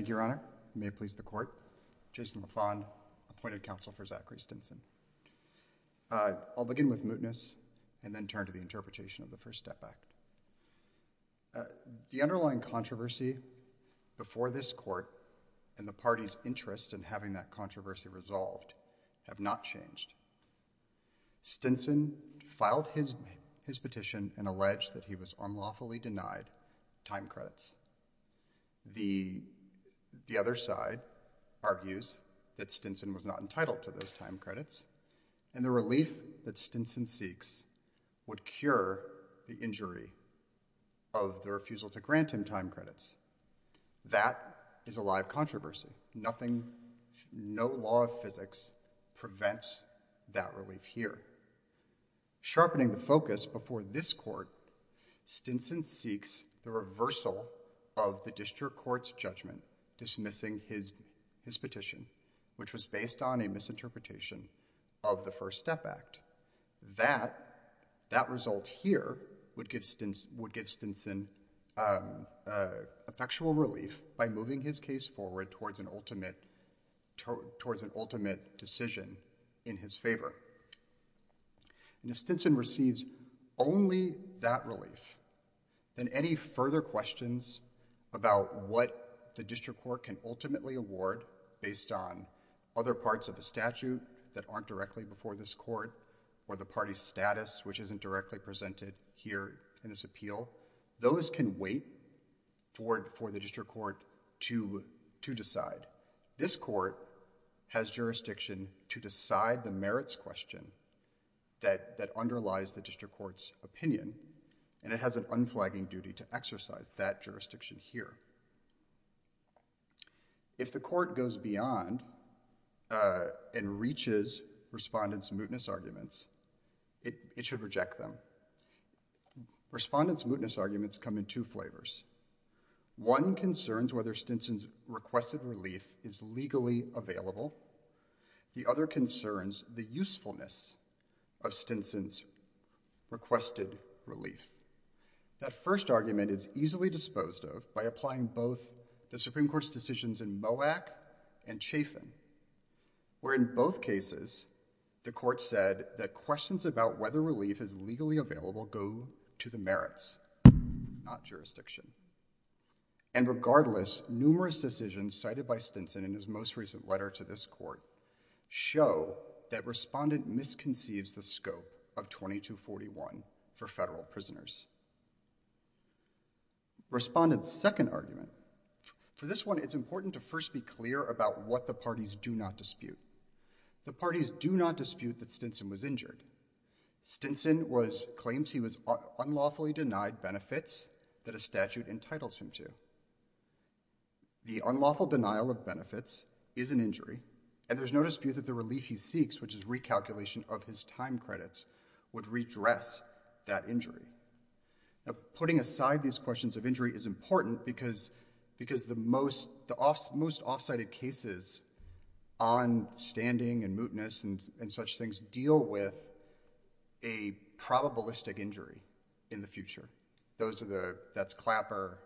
I'll begin with mootness and then turn to the interpretation of the First Step Act. The underlying controversy before this Court and the party's interest in having that controversy resolved have not changed. Stinson filed his petition and alleged that he was unlawfully denied time credits. The other side argues that Stinson was not entitled to those time credits, and the relief that Stinson seeks would cure the injury of the refusal to grant him time credits. That is a live controversy. Nothing, no law of physics prevents that relief here. Sharpening the focus before this Court, Stinson seeks the reversal of the District Court's judgment dismissing his petition, which was based on a misinterpretation of the First Step Act. That result here would give Stinson effectual relief by moving his case forward towards an ultimate decision in his favor. If Stinson receives only that relief, then any further questions about what the District Court can ultimately award based on other parts of the statute that aren't directly before this Court or the party's status, which isn't directly presented here in this appeal, those can wait for the District Court to decide. This Court has jurisdiction to decide the merits question that underlies the District Court's opinion, and it has an unflagging duty to exercise that jurisdiction here. If the Court goes beyond and reaches respondents' mootness arguments, it should reject them. Respondents' mootness arguments come in two flavors. One concerns whether Stinson's requested relief is legally available. The other concerns the usefulness of Stinson's requested relief. That first argument is easily disposed of by applying both the Supreme Court's decisions in Moak and Chafin, where in both cases the Court said that questions about whether relief is legally available go to the merits, not jurisdiction. And regardless, numerous decisions cited by Stinson in his most recent letter to this Court show that Respondent misconceives the scope of 2241 for federal prisoners. Respondent's second argument, for this one it's important to first be clear about what the parties do not dispute. The parties do not dispute that Stinson was injured. Stinson claims he was unlawfully denied benefits that a statute entitles him to. The unlawful denial of benefits is an injury, and there's no dispute that the relief he seeks, which is recalculation of his time credits, would redress that injury. Putting aside these questions of injury is important because the most off-sited cases on standing and mootness and such things deal with a probabilistic injury in the future. Those are the, that's Clapper,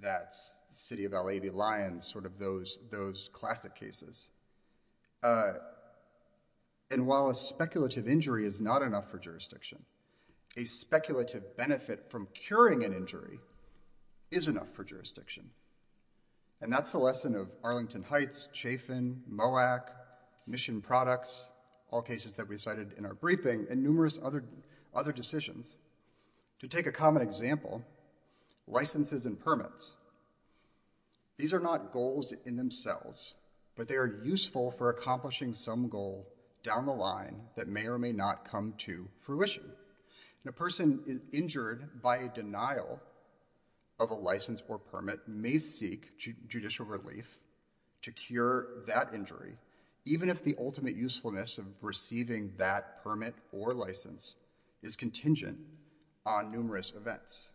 that's City of L.A. v. Lyons, sort of those classic cases. And while a speculative injury is not enough for jurisdiction, a speculative benefit from curing an injury is enough for jurisdiction. And that's the lesson of Arlington Heights, Chafin, MOAC, Mission Products, all cases that we cited in our briefing, and numerous other decisions. To take a common example, licenses and permits. These are not goals in themselves, but they are useful for accomplishing some goal down the line that may or may not come to fruition. And a person injured by a denial of a license or permit may seek judicial relief to cure that injury, even if the ultimate usefulness of receiving that permit or license is contingent on numerous events.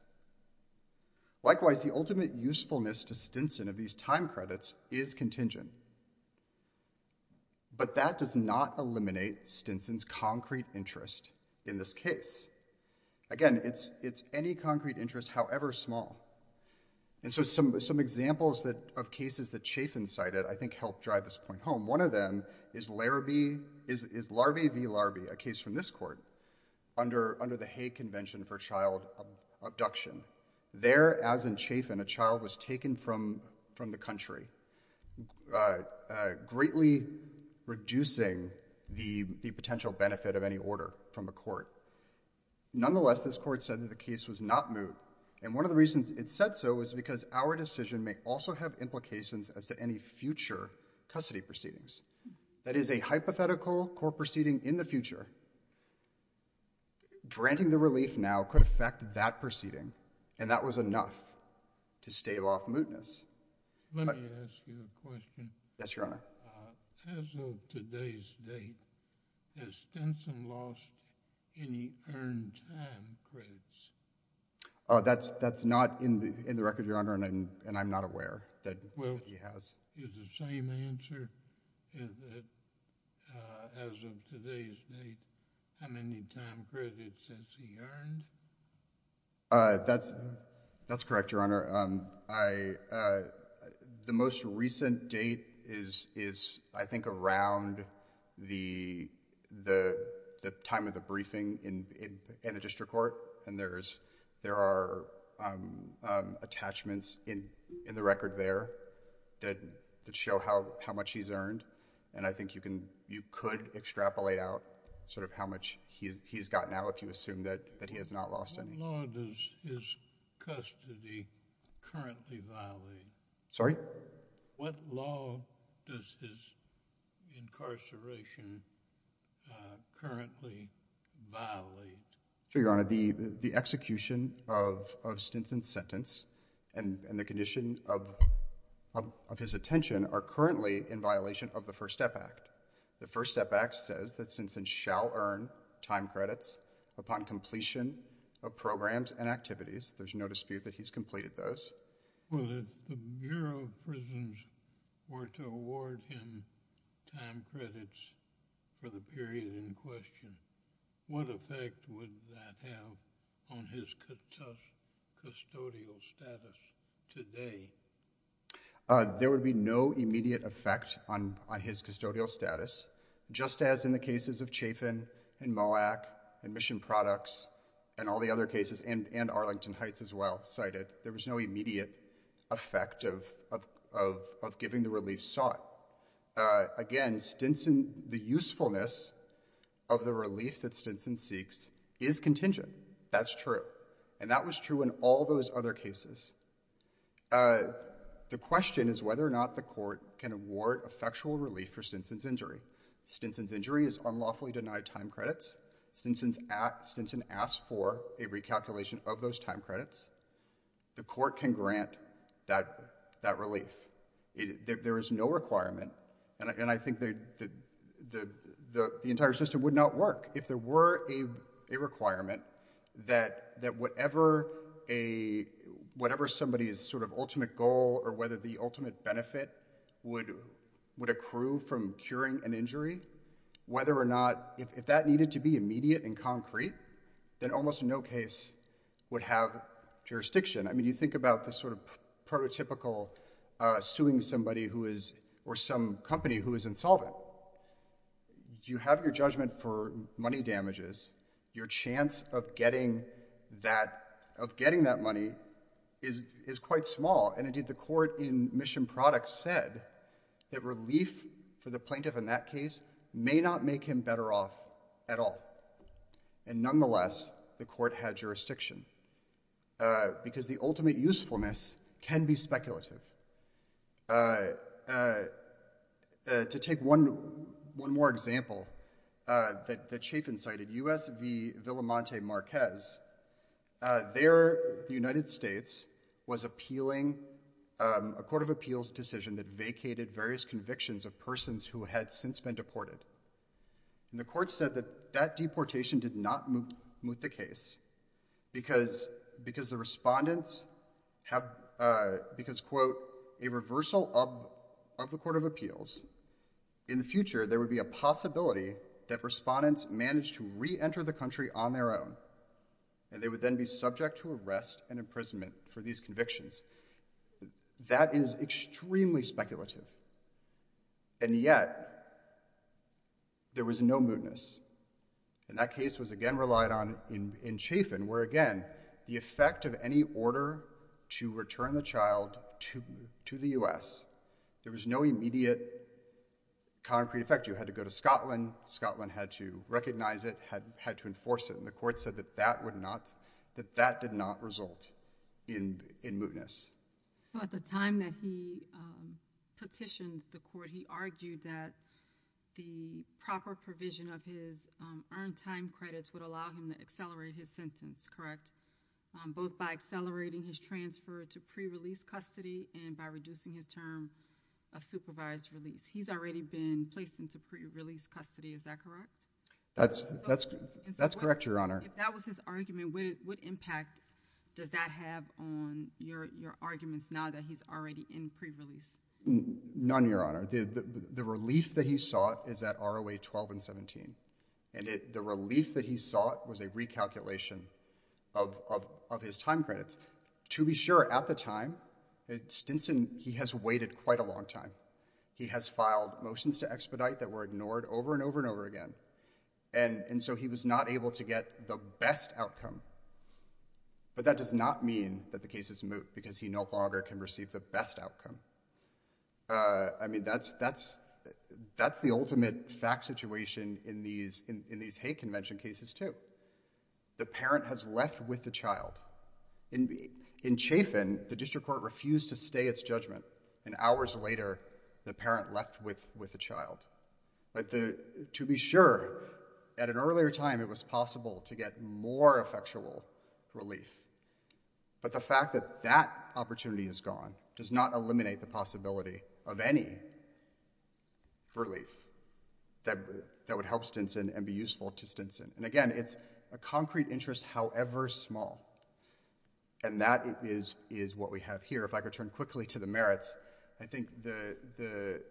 Likewise, the ultimate usefulness to Stinson of these time credits is contingent. But that does not eliminate Stinson's concrete interest in this case. Again, it's any concrete interest, however small. And so some examples of cases that Chafin cited I think help drive this point home. One of them is Larabee v. Larbee, a case from this court, under the Hague Convention for Child Abduction. There, as in Chafin, a child was taken from the country, greatly reducing the potential benefit of any order from a court. Nonetheless, this court said that the case was not moot. And one of the reasons it said so was because our decision may also have implications as to any future custody proceedings. That is, a hypothetical court proceeding in the future granting the relief now could affect that proceeding. And that was enough to stave off mootness. Let me ask you a question. Yes, Your Honor. As of today's date, has Stinson lost any earned time credits? Oh, that's not in the record, Your Honor, and I'm not aware that he has. Is the same answer, as of today's date, how many time credits has he earned? That's correct, Your Honor. The most recent date is, I think, around the time of the briefing in the district court, and there are attachments in the record there that show how much he's earned. And I think you could extrapolate out sort of how much he's got now if you assume that he has not lost any. What law does his custody currently violate? Sorry? What law does his incarceration currently violate? Sure, Your Honor. The execution of Stinson's sentence and the condition of his detention are currently in violation of the First Step Act. The First Step Act says that Stinson shall earn time credits upon completion of programs and activities. There's no dispute that he's completed those. Well, if the Bureau of Prisons were to award him time credits for the period in question, what effect would that have on his custodial status today? There would be no immediate effect on his custodial status, just as in the cases of Chafin and Moak and Mission Products and all the other cases, and Arlington Heights as well cited. There was no immediate effect of giving the relief sought. Again, the usefulness of the relief that Stinson seeks is contingent. That's true. And that was true in all those other cases. The question is whether or not the court can award effectual relief for Stinson's injury. Stinson's injury is unlawfully denied time credits. Stinson asks for a recalculation of those time credits. The court can grant that relief. There is no requirement, and I think the entire system would not work if there were a requirement that whatever somebody's sort of ultimate goal or whether the ultimate benefit would accrue from curing an injury, whether or not, if that needed to be immediate and concrete, then almost in no case would have jurisdiction. I mean, you think about the sort of prototypical suing somebody or some company who is insolvent. You have your judgment for money damages. Your chance of getting that money is quite small, and indeed the court in Mission Products said that relief for the plaintiff in that case may not make him better off at all. And nonetheless, the court had jurisdiction, because the ultimate usefulness can be speculative. To take one more example that Chafin cited, US v. Villamonte Marquez. There, the United States was appealing a court of appeals decision that vacated various convictions of persons who had since been deported. And the court said that that deportation did not moot the case, because the respondents have, because, quote, a reversal of the court of appeals, in the future there would be a possibility that respondents managed to reenter the country on their own, and they would then be subject to arrest and imprisonment for these convictions. That is extremely speculative, and yet there was no mootness, and that case was again relied on in Chafin, where again, the effect of any order to return the child to the US, there was no immediate concrete effect. You had to go to Scotland, Scotland had to recognize it, had to enforce it, and the court said that that would not, that that did not result in mootness. Well, at the time that he petitioned the court, he argued that the proper provision of his earned time credits would allow him to accelerate his sentence, correct, both by accelerating his transfer to pre-release custody and by reducing his term of supervised release. He's already been placed into pre-release custody, is that correct? That's correct, Your Honor. If that was his argument, what impact does that have on your arguments now that he's already in pre-release? None, Your Honor. The relief that he sought is at ROA 12 and 17, and the relief that he sought was a recalculation of his time credits. To be sure, at the time, Stinson, he has waited quite a long time. He has filed motions to expedite that were ignored over and over and over again, and so he was not able to get the best outcome. But that does not mean that the case is moot, because he no longer can receive the best outcome. I mean, that's the ultimate fact situation in these hate convention cases, too. The parent has left with the child. In Chafin, the district court refused to stay its judgment, and hours later, the parent left with the child. To be sure, at an earlier time, it was possible to get more effectual relief, but the fact that that opportunity is gone does not eliminate the possibility of any relief that would help Stinson and be useful to Stinson. And again, it's a concrete interest, however small, and that is what we have here. If I could turn quickly to the merits, I think the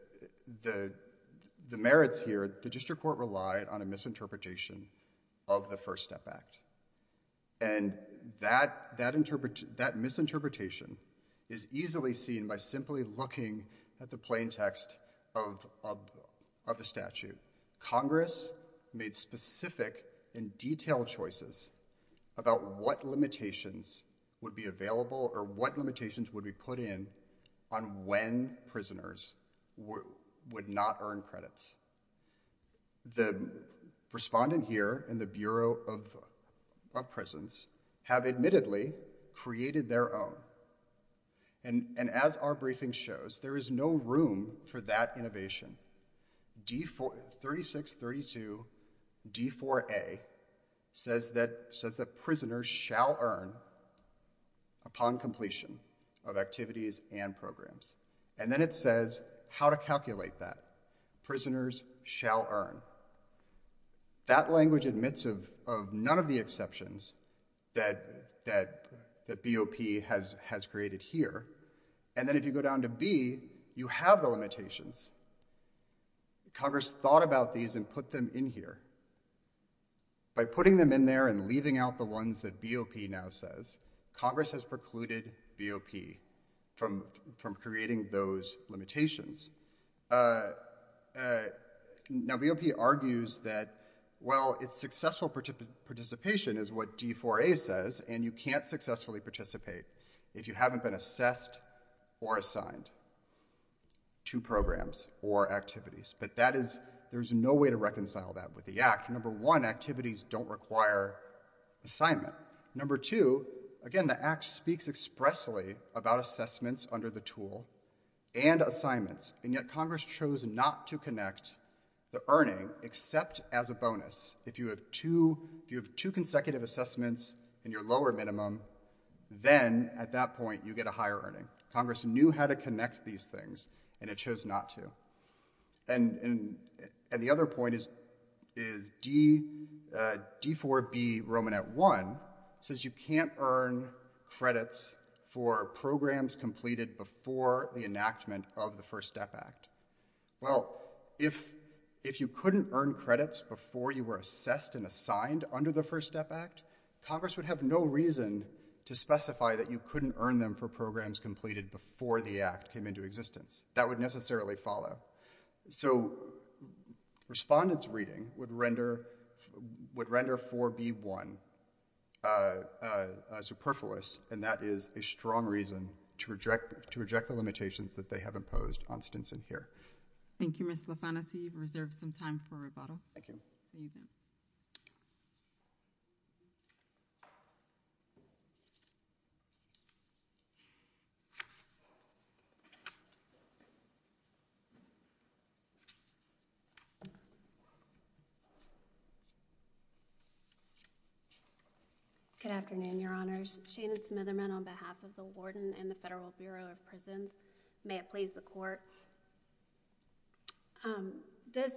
merits here, the district court relied on a misinterpretation of the First Step Act, and that misinterpretation is easily seen by simply looking at the plain text of the statute. Congress made specific and detailed choices about what limitations would be available or what limitations would be put in on when prisoners would not earn credits. The respondent here in the Bureau of Prisons have admittedly created their own, and as our briefing shows, there is no room for that innovation. 3632 D4A says that prisoners shall earn upon completion of activities and programs, and then it says how to calculate that. Prisoners shall earn. That language admits of none of the exceptions that BOP has created here, and then if you go down to B, you have the limitations. Congress thought about these and put them in here. By putting them in there and leaving out the ones that BOP now says, Congress has precluded BOP from creating those limitations. Now, BOP argues that, well, it's successful participation is what D4A says, and you can't successfully participate if you haven't been assessed or assigned to programs or activities, but there's no way to reconcile that with the Act. Number one, activities don't require assignment. Number two, again, the Act speaks expressly about assessments under the tool and assignments, and yet Congress chose not to connect the earning except as a bonus. If you have two consecutive assessments in your lower minimum, then at that point you get a higher earning. Congress knew how to connect these things, and it chose not to. And the other point is D4B Romanet 1 says you can't earn credits for programs completed before the enactment of the First Step Act. Well, if you couldn't earn credits before you were assessed and assigned under the First Step Act, Congress would have no reason to specify that you couldn't earn them for programs completed before the Act came into existence. That would necessarily follow. So respondent's reading would render 4B1 superfluous, and that is a strong reason to reject the limitations that they have imposed on Stinson here. Thank you, Mr. LaFantasi, you've reserved some time for rebuttal. Thank you. Good afternoon, Your Honors. Shana Smitherman on behalf of the Warden and the Federal Bureau of Prisons. May it please the Court. This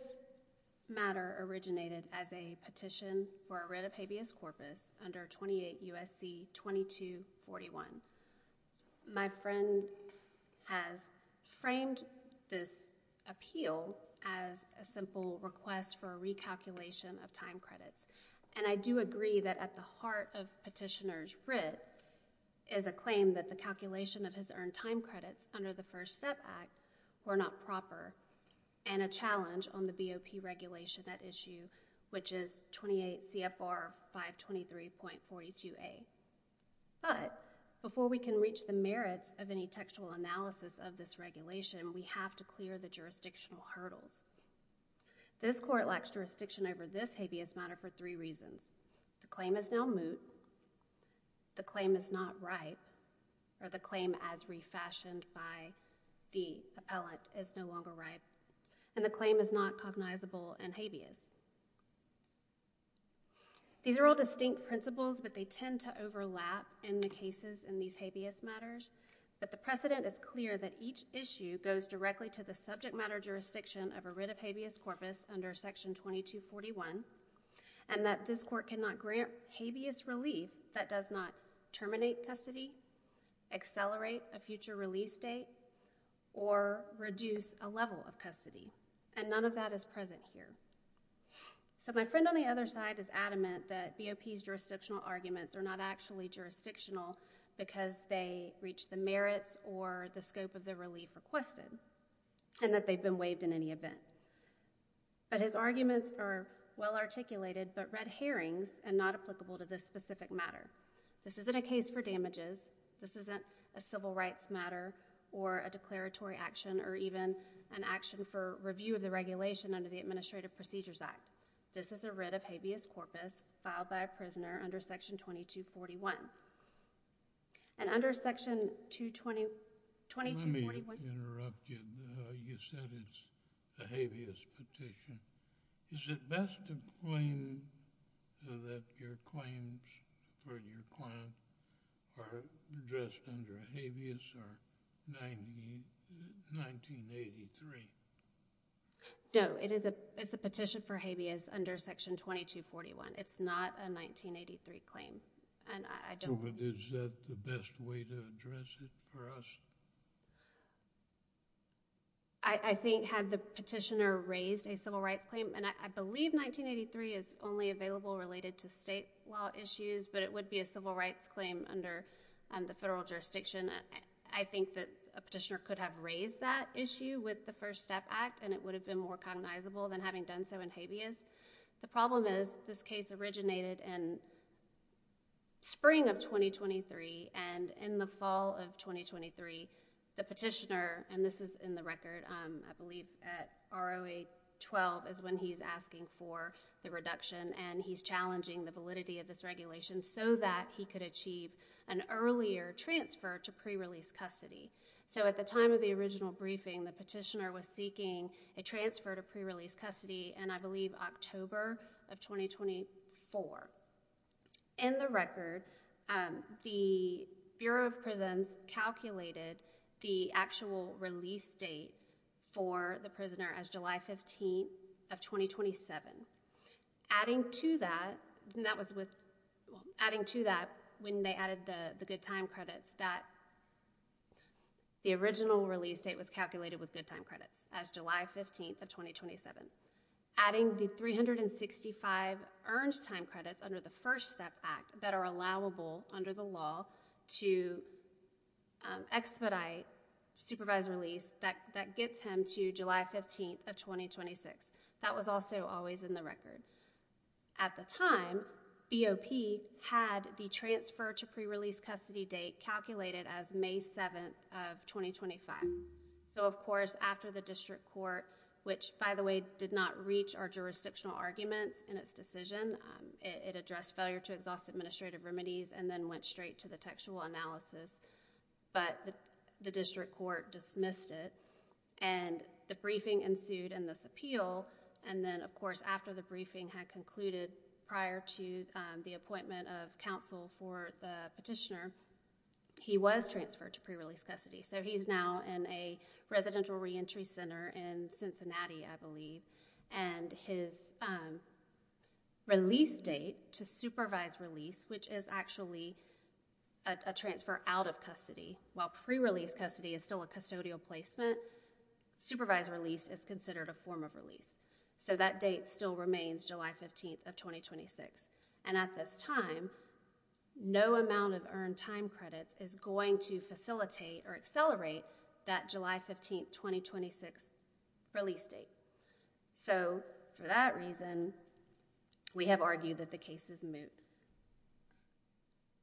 matter originated as a petition for a writ of habeas corpus under 28 U.S.C. 2241. My friend has framed this appeal as a simple request for a recalculation of time credits. And I do agree that at the heart of petitioner's writ is a claim that the calculation of his earned time credits under the First Step Act were not proper and a challenge on the BOP regulation at issue, which is 28 CFR 523.42a. But before we can reach the merits of any textual analysis of this regulation, we have to clear the jurisdictional hurdles. This Court lacks jurisdiction over this habeas matter for three reasons. The claim is now moot, the claim is not ripe, or the claim as refashioned by the appellant is no longer ripe, and the claim is not cognizable and habeas. These are all distinct principles, but they tend to overlap in the cases in these habeas matters, but the precedent is clear that each issue goes directly to the subject matter jurisdiction of a writ of habeas corpus under Section 2241, and that this Court cannot grant habeas relief that does not terminate custody, accelerate a future release date, or reduce a level of custody, and none of that is present here. So my friend on the other side is adamant that BOP's jurisdictional arguments are not actually jurisdictional because they reach the merits or the scope of the relief requested, and that they've been waived in any event, but his arguments are well articulated but red herrings and not applicable to this specific matter. This isn't a case for damages, this isn't a civil rights matter or a declaratory action or even an action for review of the regulation under the Administrative Procedures Act. This is a writ of habeas corpus filed by a prisoner under Section 2241, and under Section 2241... Let me interrupt you. You said it's a habeas petition. Is it best to claim that your claims for your client are addressed under habeas or 1983? No, it's a petition for habeas under Section 2241. It's not a 1983 claim, and I don't... But is that the best way to address it for us? I think had the petitioner raised a civil rights claim, and I believe 1983 is only available related to state law issues, but it would be a civil rights claim under the federal jurisdiction, I think that a petitioner could have raised that issue with the First Step Act, and it would have been more cognizable than having done so in habeas. The problem is this case originated in spring of 2023, and in the fall of 2023, the petitioner, and this is in the record, I believe at ROA 12 is when he's asking for the reduction, and he's challenging the validity of this regulation so that he could achieve an earlier transfer to pre-release custody. So at the time of the original briefing, the petitioner was seeking a transfer to pre-release custody in, I believe, October of 2024. In the record, the Bureau of Prisons calculated the actual release date for the prisoner as July 15th of 2027. Adding to that, when they added the good time credits, the original release date was calculated with good time credits as July 15th of 2027. Adding the 365 earned time credits under the First Step Act that are allowable under the law to expedite supervised release, that gets him to July 15th of 2026. That was also always in the record. At the time, BOP had the transfer to pre-release custody date calculated as May 7th of 2025. Of course, after the district court, which, by the way, did not reach our jurisdictional arguments in its decision, it addressed failure to exhaust administrative remedies and then went straight to the textual analysis, but the district court dismissed it. The briefing ensued in this appeal, and then, of course, after the briefing had concluded prior to the appointment of counsel for the petitioner, he was transferred to pre-release custody. He's now in a residential reentry center in Cincinnati, I believe. His release date to supervised release, which is actually a transfer out of custody, while pre-release custody is still a custodial placement, supervised release is considered a form of That date still remains July 15th of 2026. At this time, no amount of earned time credits is going to facilitate or accelerate that July 15th, 2026 release date. For that reason, we have argued that the case is moot.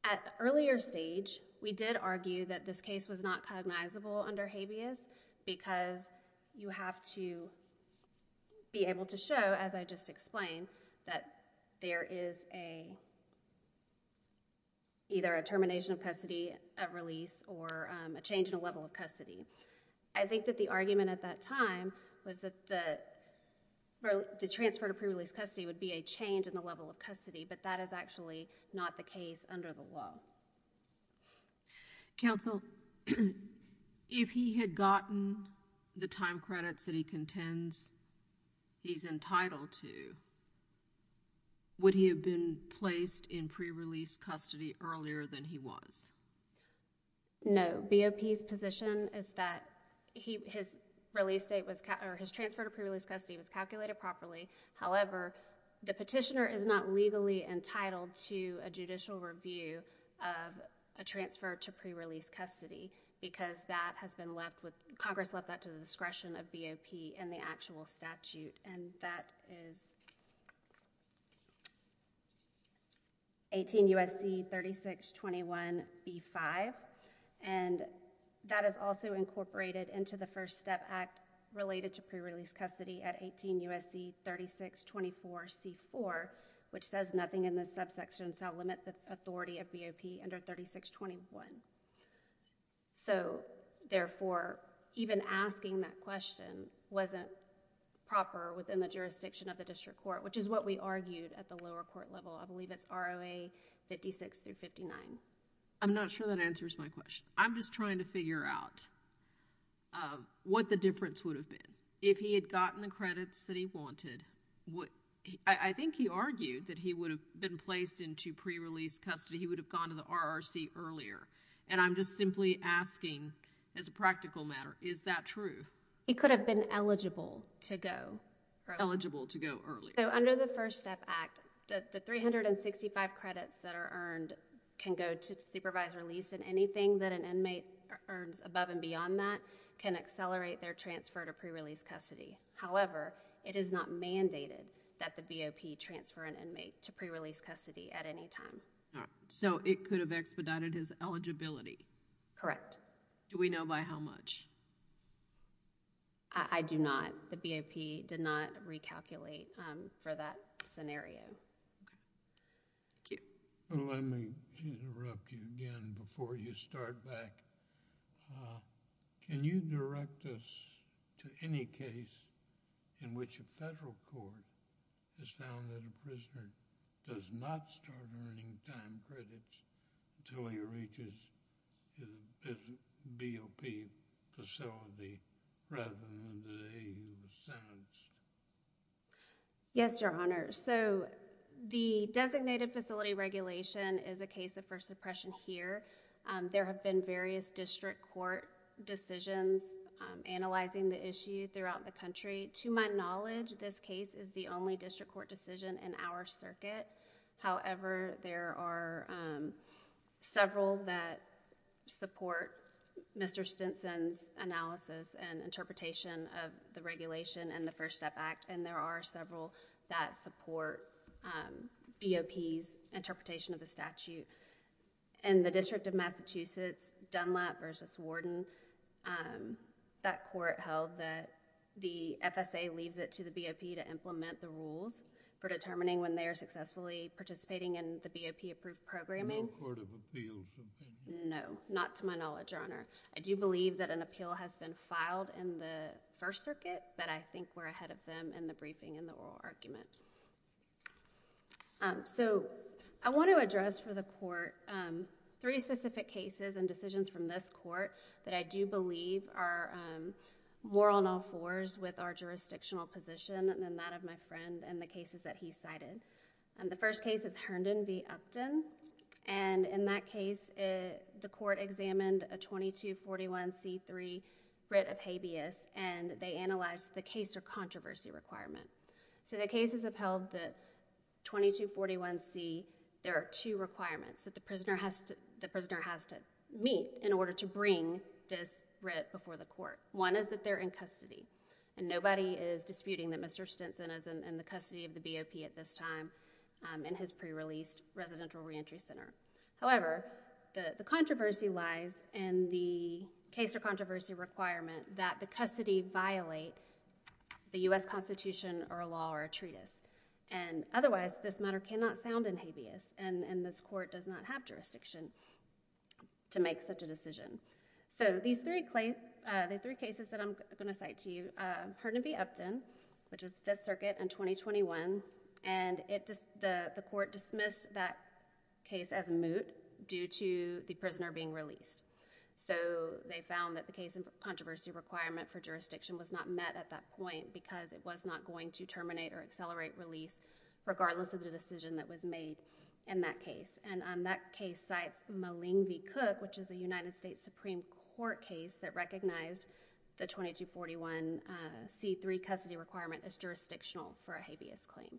At the earlier stage, we did argue that this case was not cognizable under habeas because you have to be able to show, as I just explained, that there is either a termination of custody at release or a change in a level of custody. I think that the argument at that time was that the transfer to pre-release custody would be a change in the level of custody, but that is actually not the case under the law. Counsel, if he had gotten the time credits that he contends he's entitled to, would he have been placed in pre-release custody earlier than he was? No. BOP's position is that his transfer to pre-release custody was calculated properly. However, the petitioner is not legally entitled to a judicial review of a transfer to pre-release custody because Congress left that to the discretion of BOP in the actual statute. That is 18 U.S.C. 3621 B5. That is also incorporated into the First Step Act related to pre-release custody at 18 U.S.C. 3624 C4, which says nothing in the subsection, so I'll limit the authority of BOP under 3621. Therefore, even asking that question wasn't proper within the jurisdiction of the district court, which is what we argued at the lower court level. I believe it's ROA 56 through 59. Counsel, I'm not sure that answers my question. I'm just trying to figure out what the difference would have been if he had gotten the credits that he wanted. I think he argued that he would have been placed into pre-release custody. He would have gone to the RRC earlier, and I'm just simply asking as a practical matter, is that true? He could have been eligible to go. Eligible to go earlier. Under the First Step Act, the 365 credits that are earned can go to supervised release, and anything that an inmate earns above and beyond that can accelerate their transfer to pre-release custody. However, it is not mandated that the BOP transfer an inmate to pre-release custody at any time. It could have expedited his eligibility. Correct. Do we know by how much? I do not. The BOP did not recalculate for that scenario. Okay. Thank you. Let me interrupt you again before you start back. Can you direct us to any case in which a federal court has found that a prisoner does not start earning time credits until he reaches his BOP facility rather than the day he was sentenced? Yes, Your Honor. The designated facility regulation is a case of first impression here. There have been various district court decisions analyzing the issue throughout the country. To my knowledge, this case is the only district court decision in our circuit. However, there are several that support Mr. Stinson's analysis and interpretation of the regulation in the First Step Act, and there are several that support BOP's interpretation of the statute. In the District of Massachusetts, Dunlap v. Warden, that court held that the FSA leaves it to the BOP to implement the rules for determining when they are successfully participating in the BOP-approved programming. No court of appeals? No. Not to my knowledge, Your Honor. I do believe that an appeal has been filed in the First Circuit, but I think we're ahead of them in the briefing and the oral argument. I want to address for the court three specific cases and decisions from this court that I believe are more on all fours with our jurisdictional position than that of my friend and the cases that he cited. The first case is Herndon v. Upton. In that case, the court examined a 2241C3 writ of habeas, and they analyzed the case or controversy requirement. The case has upheld the 2241C. There are two requirements that the prisoner has to meet in order to bring this writ before the court. One is that they're in custody, and nobody is disputing that Mr. Stinson is in the custody of the BOP at this time in his pre-released residential reentry center. However, the controversy lies in the case or controversy requirement that the custody violate the U.S. Constitution or a law or a treatise. Otherwise, this matter cannot sound in habeas, and this court does not have jurisdiction to make such a decision. These three cases that I'm going to cite to you, Herndon v. Upton, which was Fifth Circuit in 2021, and the court dismissed that case as moot due to the prisoner being released. They found that the case of controversy requirement for jurisdiction was not met at that point because it was not going to terminate or accelerate release regardless of the decision that was made in that case. That case cites Maling v. Cook, which is a United States Supreme Court case that recognized the 2241C3 custody requirement as jurisdictional for a habeas claim.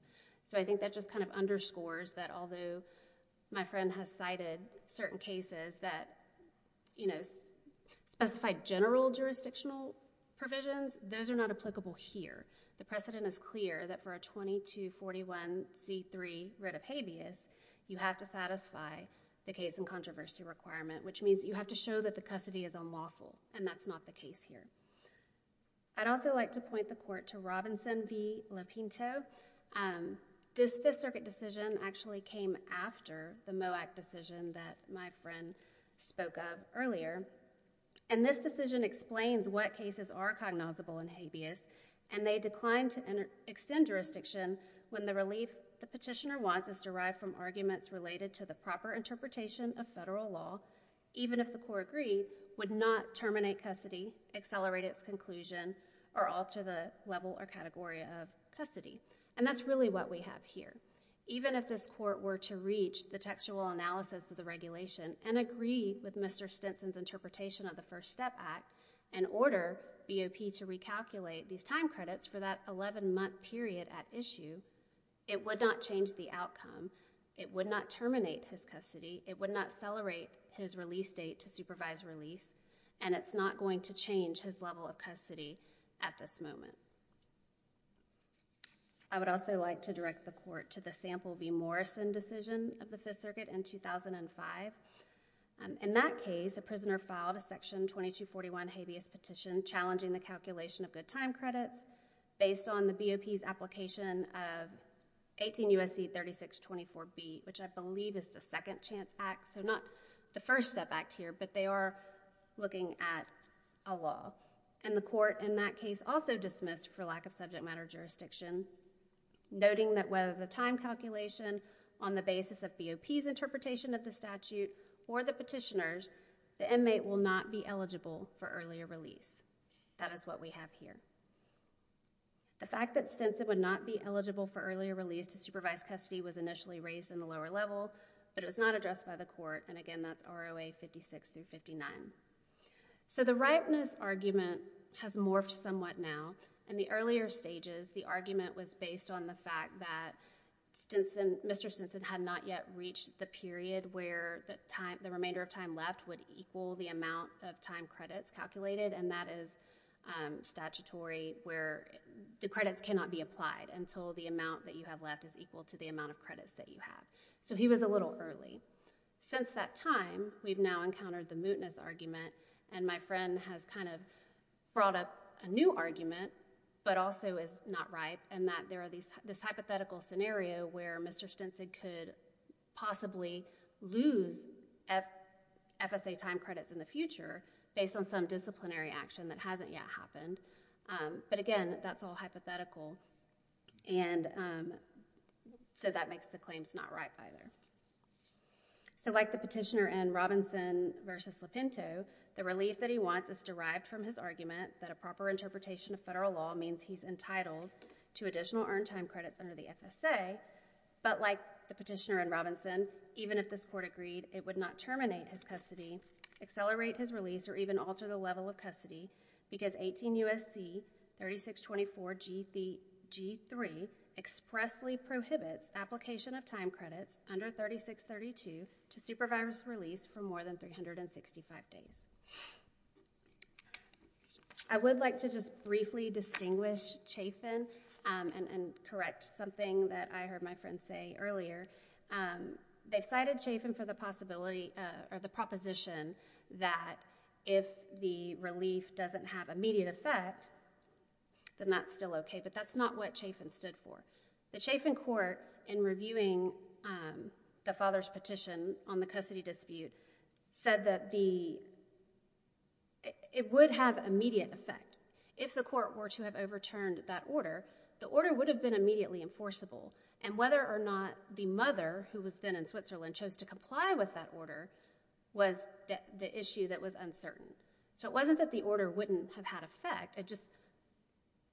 I think that just underscores that although my friend has cited certain cases that specify general jurisdictional provisions, those are not applicable here. The precedent is clear that for a 2241C3 writ of habeas, you have to satisfy the case and controversy requirement, which means that you have to show that the custody is unlawful, and that's not the case here. I'd also like to point the court to Robinson v. Lupinto. This Fifth Circuit decision actually came after the MOAC decision that my friend spoke of earlier. This decision explains what cases are cognizable in habeas, and they declined to extend jurisdiction when the relief the petitioner wants is derived from arguments related to the proper interpretation of federal law, even if the court agreed would not terminate custody, accelerate its conclusion, or alter the level or category of custody. That's really what we have here. Even if this court were to reach the textual analysis of the regulation and agree with Mr. Stinson's interpretation of the First Step Act and order BOP to recalculate these time credits for that 11-month period at issue, it would not change the outcome. It would not terminate his custody. It would not accelerate his release date to supervised release, and it's not going to change his level of custody at this moment. I would also like to direct the court to the Sample v. Morrison decision of the Fifth Circuit in 2005. In that case, a prisoner filed a Section 2241 habeas petition challenging the calculation of good time credits based on the BOP's application of 18 U.S.C. 3624B, which I believe is the Second Chance Act, so not the First Step Act here, but they are looking at a law. The court in that case also dismissed for lack of subject matter jurisdiction, noting that whether the time calculation on the basis of BOP's interpretation of the statute or the petitioner's, the inmate will not be eligible for earlier release. That is what we have here. The fact that Stinson would not be eligible for earlier release to supervised custody was initially raised in the lower level, but it was not addressed by the court, and again, that's ROA 56 through 59. So the ripeness argument has morphed somewhat now. In the earlier stages, the argument was based on the fact that Mr. Stinson had not yet reached the period where the remainder of time left would equal the amount of time credits calculated, and that is statutory where the credits cannot be applied until the amount that you have left is equal to the amount of credits that you have. So he was a little early. Since that time, we've now encountered the mootness argument, and my friend has kind of brought up a new argument, but also is not ripe, and that there are this hypothetical scenario where Mr. Stinson could possibly lose FSA time credits in the future based on some disciplinary action that hasn't yet happened, but again, that's all hypothetical, and so that makes the claims not ripe either. So like the petitioner in Robinson v. Lipinto, the relief that he wants is derived from his argument that a proper interpretation of federal law means he's entitled to additional earned time credits under the FSA, but like the petitioner in Robinson, even if this court agreed, it would not terminate his custody, accelerate his release, or even alter the level of custody because 18 U.S.C. 3624 G3 expressly prohibits application of time credits under 3632 to supervise release for more than 365 days. I would like to just briefly distinguish Chafin and correct something that I heard my friend say earlier. They've cited Chafin for the possibility or the proposition that if the relief doesn't have immediate effect, then that's still okay, but that's not what Chafin stood for. The Chafin court, in reviewing the father's petition on the custody dispute, said that it would have immediate effect. If the court were to have overturned that order, the order would have been immediately enforceable, and whether or not the mother, who was then in Switzerland, chose to comply with that order was the issue that was uncertain. It wasn't that the order wouldn't have had effect, it's just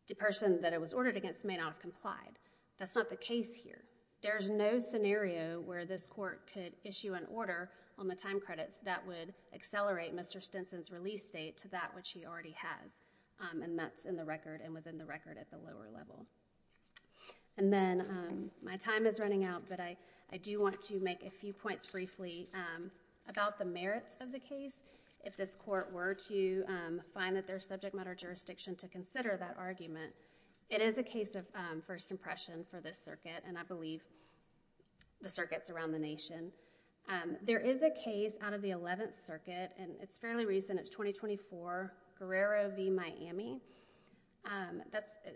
the person that it was ordered against may not have complied. That's not the case here. There's no scenario where this court could issue an order on the time credits that would accelerate Mr. Stinson's release date to that which he already has, and that's in the record at the lower level. Then, my time is running out, but I do want to make a few points briefly about the merits of the case. If this court were to find that there's subject matter jurisdiction to consider that argument, it is a case of first impression for this circuit, and I believe the circuits around the nation. There is a case out of the 11th Circuit, and it's fairly recent, it's 2024, Guerrero v. Miami.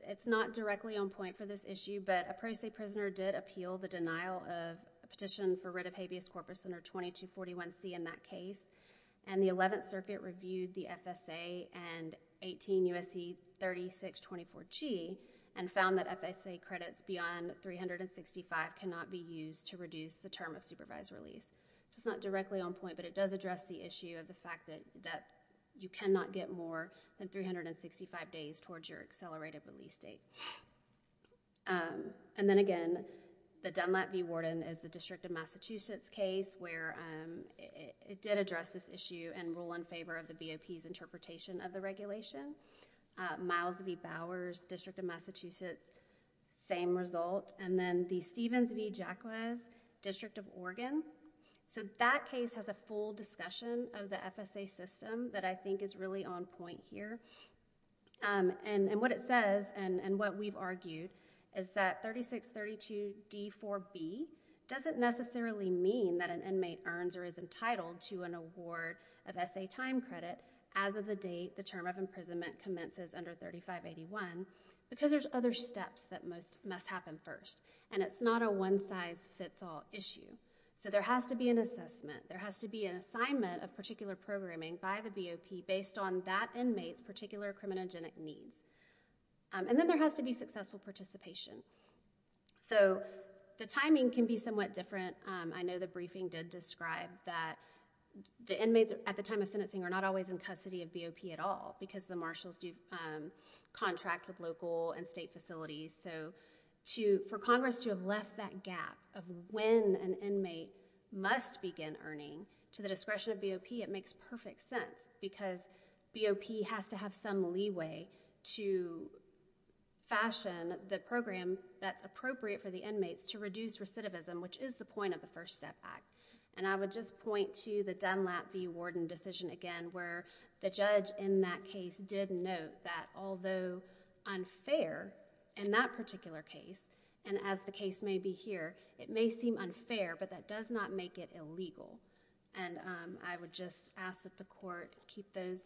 It's not directly on point for this issue, but a Pro Se prisoner did appeal the denial of a petition for writ of habeas corpus under 2241C in that case, and the 11th Circuit reviewed the FSA and 18 U.S.C. 3624G, and found that FSA credits beyond 365 cannot be used to reduce the term of supervised release. It's not directly on point, but it does address the issue of the fact that you cannot get more than 365 days towards your accelerated release date. Then again, the Dunlap v. Warden is the District of Massachusetts case where it did address this issue and rule in favor of the BOP's interpretation of the regulation. Miles v. Bowers, District of Massachusetts, same result, and then the Stevens v. Jacquez, District of Oregon. That case has a full discussion of the FSA system that I think is really on point here. What it says, and what we've argued, is that 3632D4B doesn't necessarily mean that an inmate earns or is entitled to an award of S.A. time credit as of the date the term of imprisonment commences under 3581, because there's other steps that must happen first. It's not a one-size-fits-all issue. There has to be an assessment. There has to be an assignment of particular programming by the BOP based on that inmate's particular criminogenic needs. Then there has to be successful participation. The timing can be somewhat different. I know the briefing did describe that the inmates at the time of sentencing are not always in custody of BOP at all, because the marshals do contract with local and state facilities. For Congress to have left that gap of when an inmate must begin earning to the discretion of BOP, it makes perfect sense, because BOP has to have some leeway to fashion the program that's appropriate for the inmates to reduce recidivism, which is the point of the First Step Act. I would just point to the Dunlap v. Warden decision again, where the judge in that case did note that although unfair in that particular case, and as the case may be here, it may seem unfair, but that does not make it illegal. I would just ask that the court keep those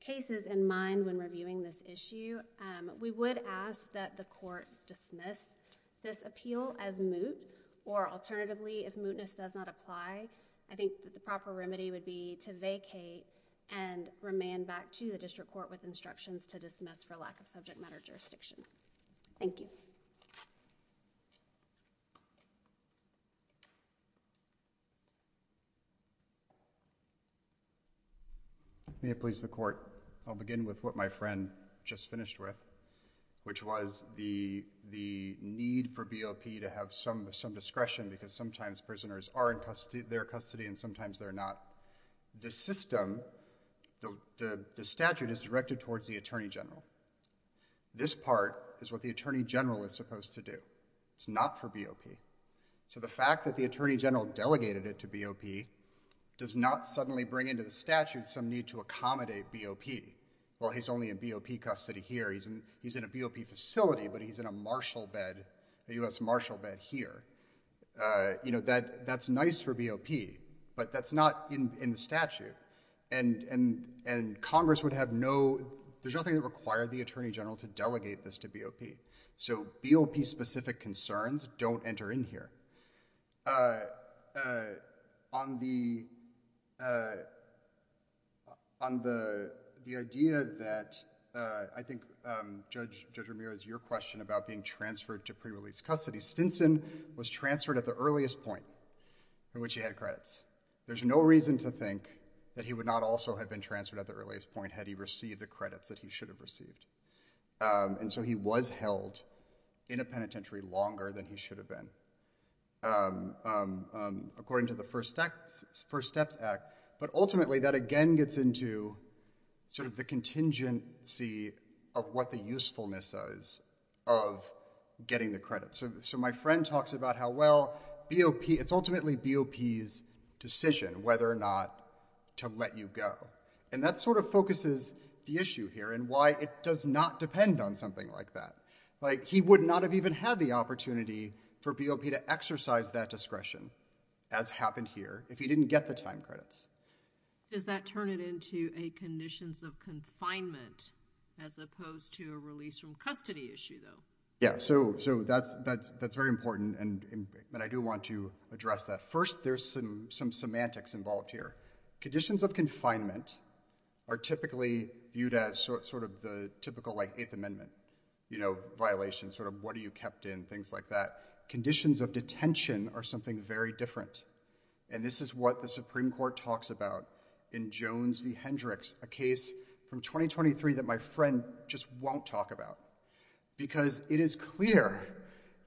cases in mind when reviewing this issue. We would ask that the court dismiss this appeal as moot, or alternatively, if mootness does not apply, I think that the proper remedy would be to vacate and remand back to the court with instructions to dismiss for lack of subject matter jurisdiction. Thank you. May it please the court. I'll begin with what my friend just finished with, which was the need for BOP to have some discretion, because sometimes prisoners are in their custody and sometimes they're not. The system, the statute is directed towards the Attorney General. This part is what the Attorney General is supposed to do. It's not for BOP. So the fact that the Attorney General delegated it to BOP does not suddenly bring into the statute some need to accommodate BOP. Well, he's only in BOP custody here. He's in a BOP facility, but he's in a marshal bed, a U.S. marshal bed here. You know, that's nice for BOP, but that's not in the statute. And Congress would have no—there's nothing that would require the Attorney General to delegate this to BOP. So BOP-specific concerns don't enter in here. On the idea that—I think, Judge Ramirez, your question about being transferred to pre-release custody, Stinson was transferred at the earliest point in which he had credits. There's no reason to think that he would not also have been transferred at the earliest point had he received the credits that he should have received. And so he was held in a penitentiary longer than he should have been, according to the First Steps Act. But ultimately, that again gets into sort of the contingency of what the usefulness is of getting the credits. So my friend talks about how well BOP—it's ultimately BOP's decision whether or not to let you go. And that sort of focuses the issue here and why it does not depend on something like that. Like, he would not have even had the opportunity for BOP to exercise that discretion, as happened here, if he didn't get the time credits. Does that turn it into a conditions of confinement as opposed to a release from custody issue, though? Yeah. So that's very important, and I do want to address that. First, there's some semantics involved here. Conditions of confinement are typically viewed as sort of the typical, like, Eighth Amendment violation, sort of what are you kept in, things like that. Conditions of detention are something very different. And this is what the Supreme Court talks about in Jones v. Hendricks, a case from 2023 that my friend just won't talk about. Because it is clear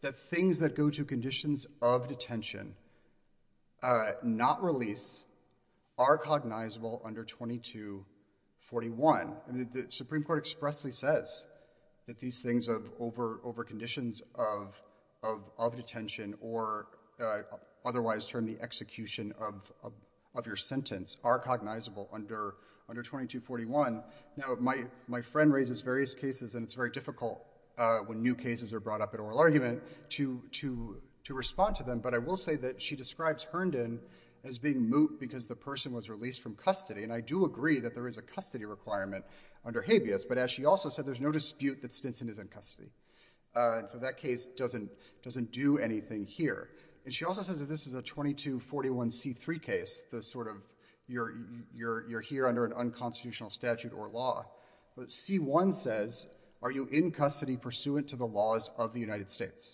that things that go to conditions of detention, not release, are cognizable under 2241. The Supreme Court expressly says that these things over conditions of detention or otherwise termed the execution of your sentence are cognizable under 2241. Now, my friend raises various cases, and it's very difficult when new cases are brought up in oral argument to respond to them. But I will say that she describes Herndon as being moot because the person was released from custody. And I do agree that there is a custody requirement under habeas. But as she also said, there's no dispute that Stinson is in custody. So that case doesn't do anything here. And she also says that this is a 2241C3 case, the sort of you're here under an unconstitutional statute or law. But C1 says, are you in custody pursuant to the laws of the United States?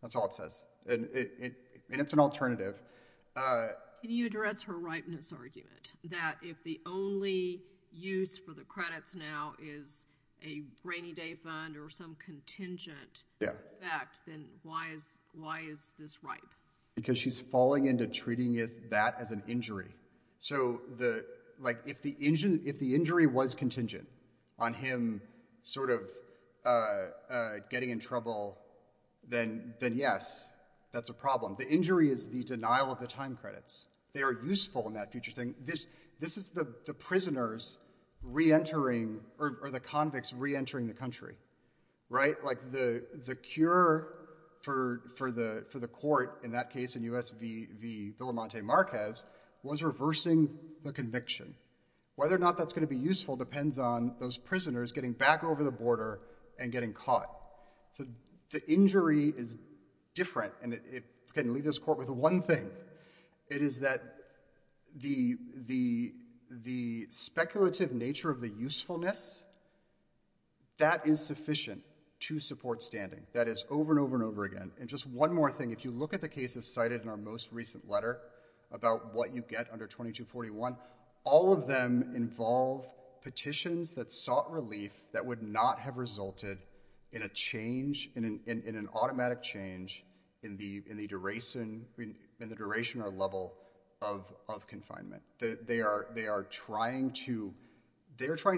That's all it says. And it's an alternative. Can you address her ripeness argument that if the only use for the credits now is a rainy day fund or some contingent effect, then why is this ripe? Because she's falling into treating that as an injury. So if the injury was contingent on him sort of getting in trouble, then yes, that's a The injury is the denial of the time credits. They are useful in that future thing. This is the prisoners reentering or the convicts reentering the country. Right? Like the cure for the court in that case in US v. Villamonte Marquez was reversing the Whether or not that's going to be useful depends on those prisoners getting back over the border and getting caught. So the injury is different. And I can leave this court with one thing. It is that the speculative nature of the usefulness, that is sufficient to support standing. That is over and over and over again. And just one more thing. If you look at the cases cited in our most recent letter about what you get under 2241, all of them involve petitions that sought relief that would not have resulted in a change, in an automatic change in the duration or level of confinement. They are trying to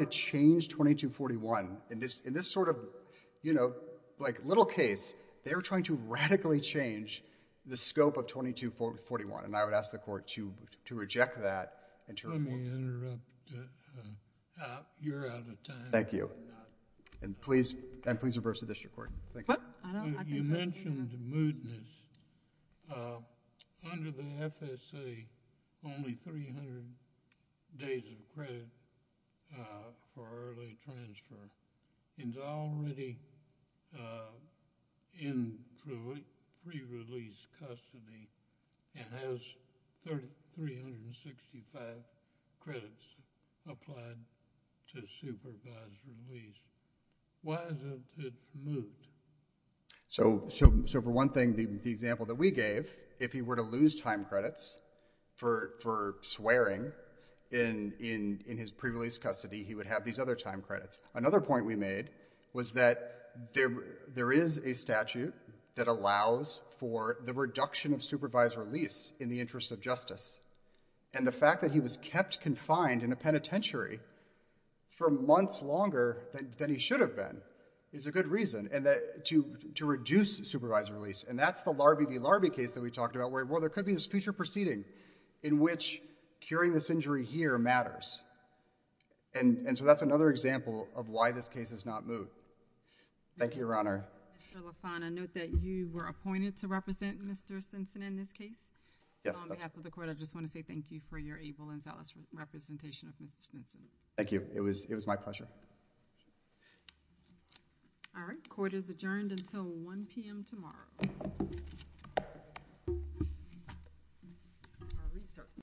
change 2241. In this sort of little case, they are trying to radically change the scope of 2241. And I would ask the court to reject that. Let me interrupt. You're out of time. Thank you. And please reverse the district court. Thank you. You mentioned mootness. Under the FSA, only 300 days of credit for early transfer. It's already in pre-release custody and has 365 credits applied to supervised release. Why isn't it moot? So for one thing, the example that we gave, if he were to lose time credits for swearing in his pre-release custody, he would have these other time credits. Another point we made was that there is a statute that allows for the reduction of supervised release in the interest of justice. And the fact that he was kept confined in a penitentiary for months longer than he should have been is a good reason to reduce supervised release. And that's the Larbee v. Larbee case that we talked about where there could be this future proceeding in which curing this injury here matters. And so that's another example of why this case is not moot. Thank you, Your Honor. Mr. LaFont, I note that you were appointed to represent Mr. Stinson in this case. Yes. So on behalf of the court, I just want to say thank you for your able and zealous representation of Mr. Stinson. Thank you. It was my pleasure. All right. Court is adjourned until 1 p.m. tomorrow.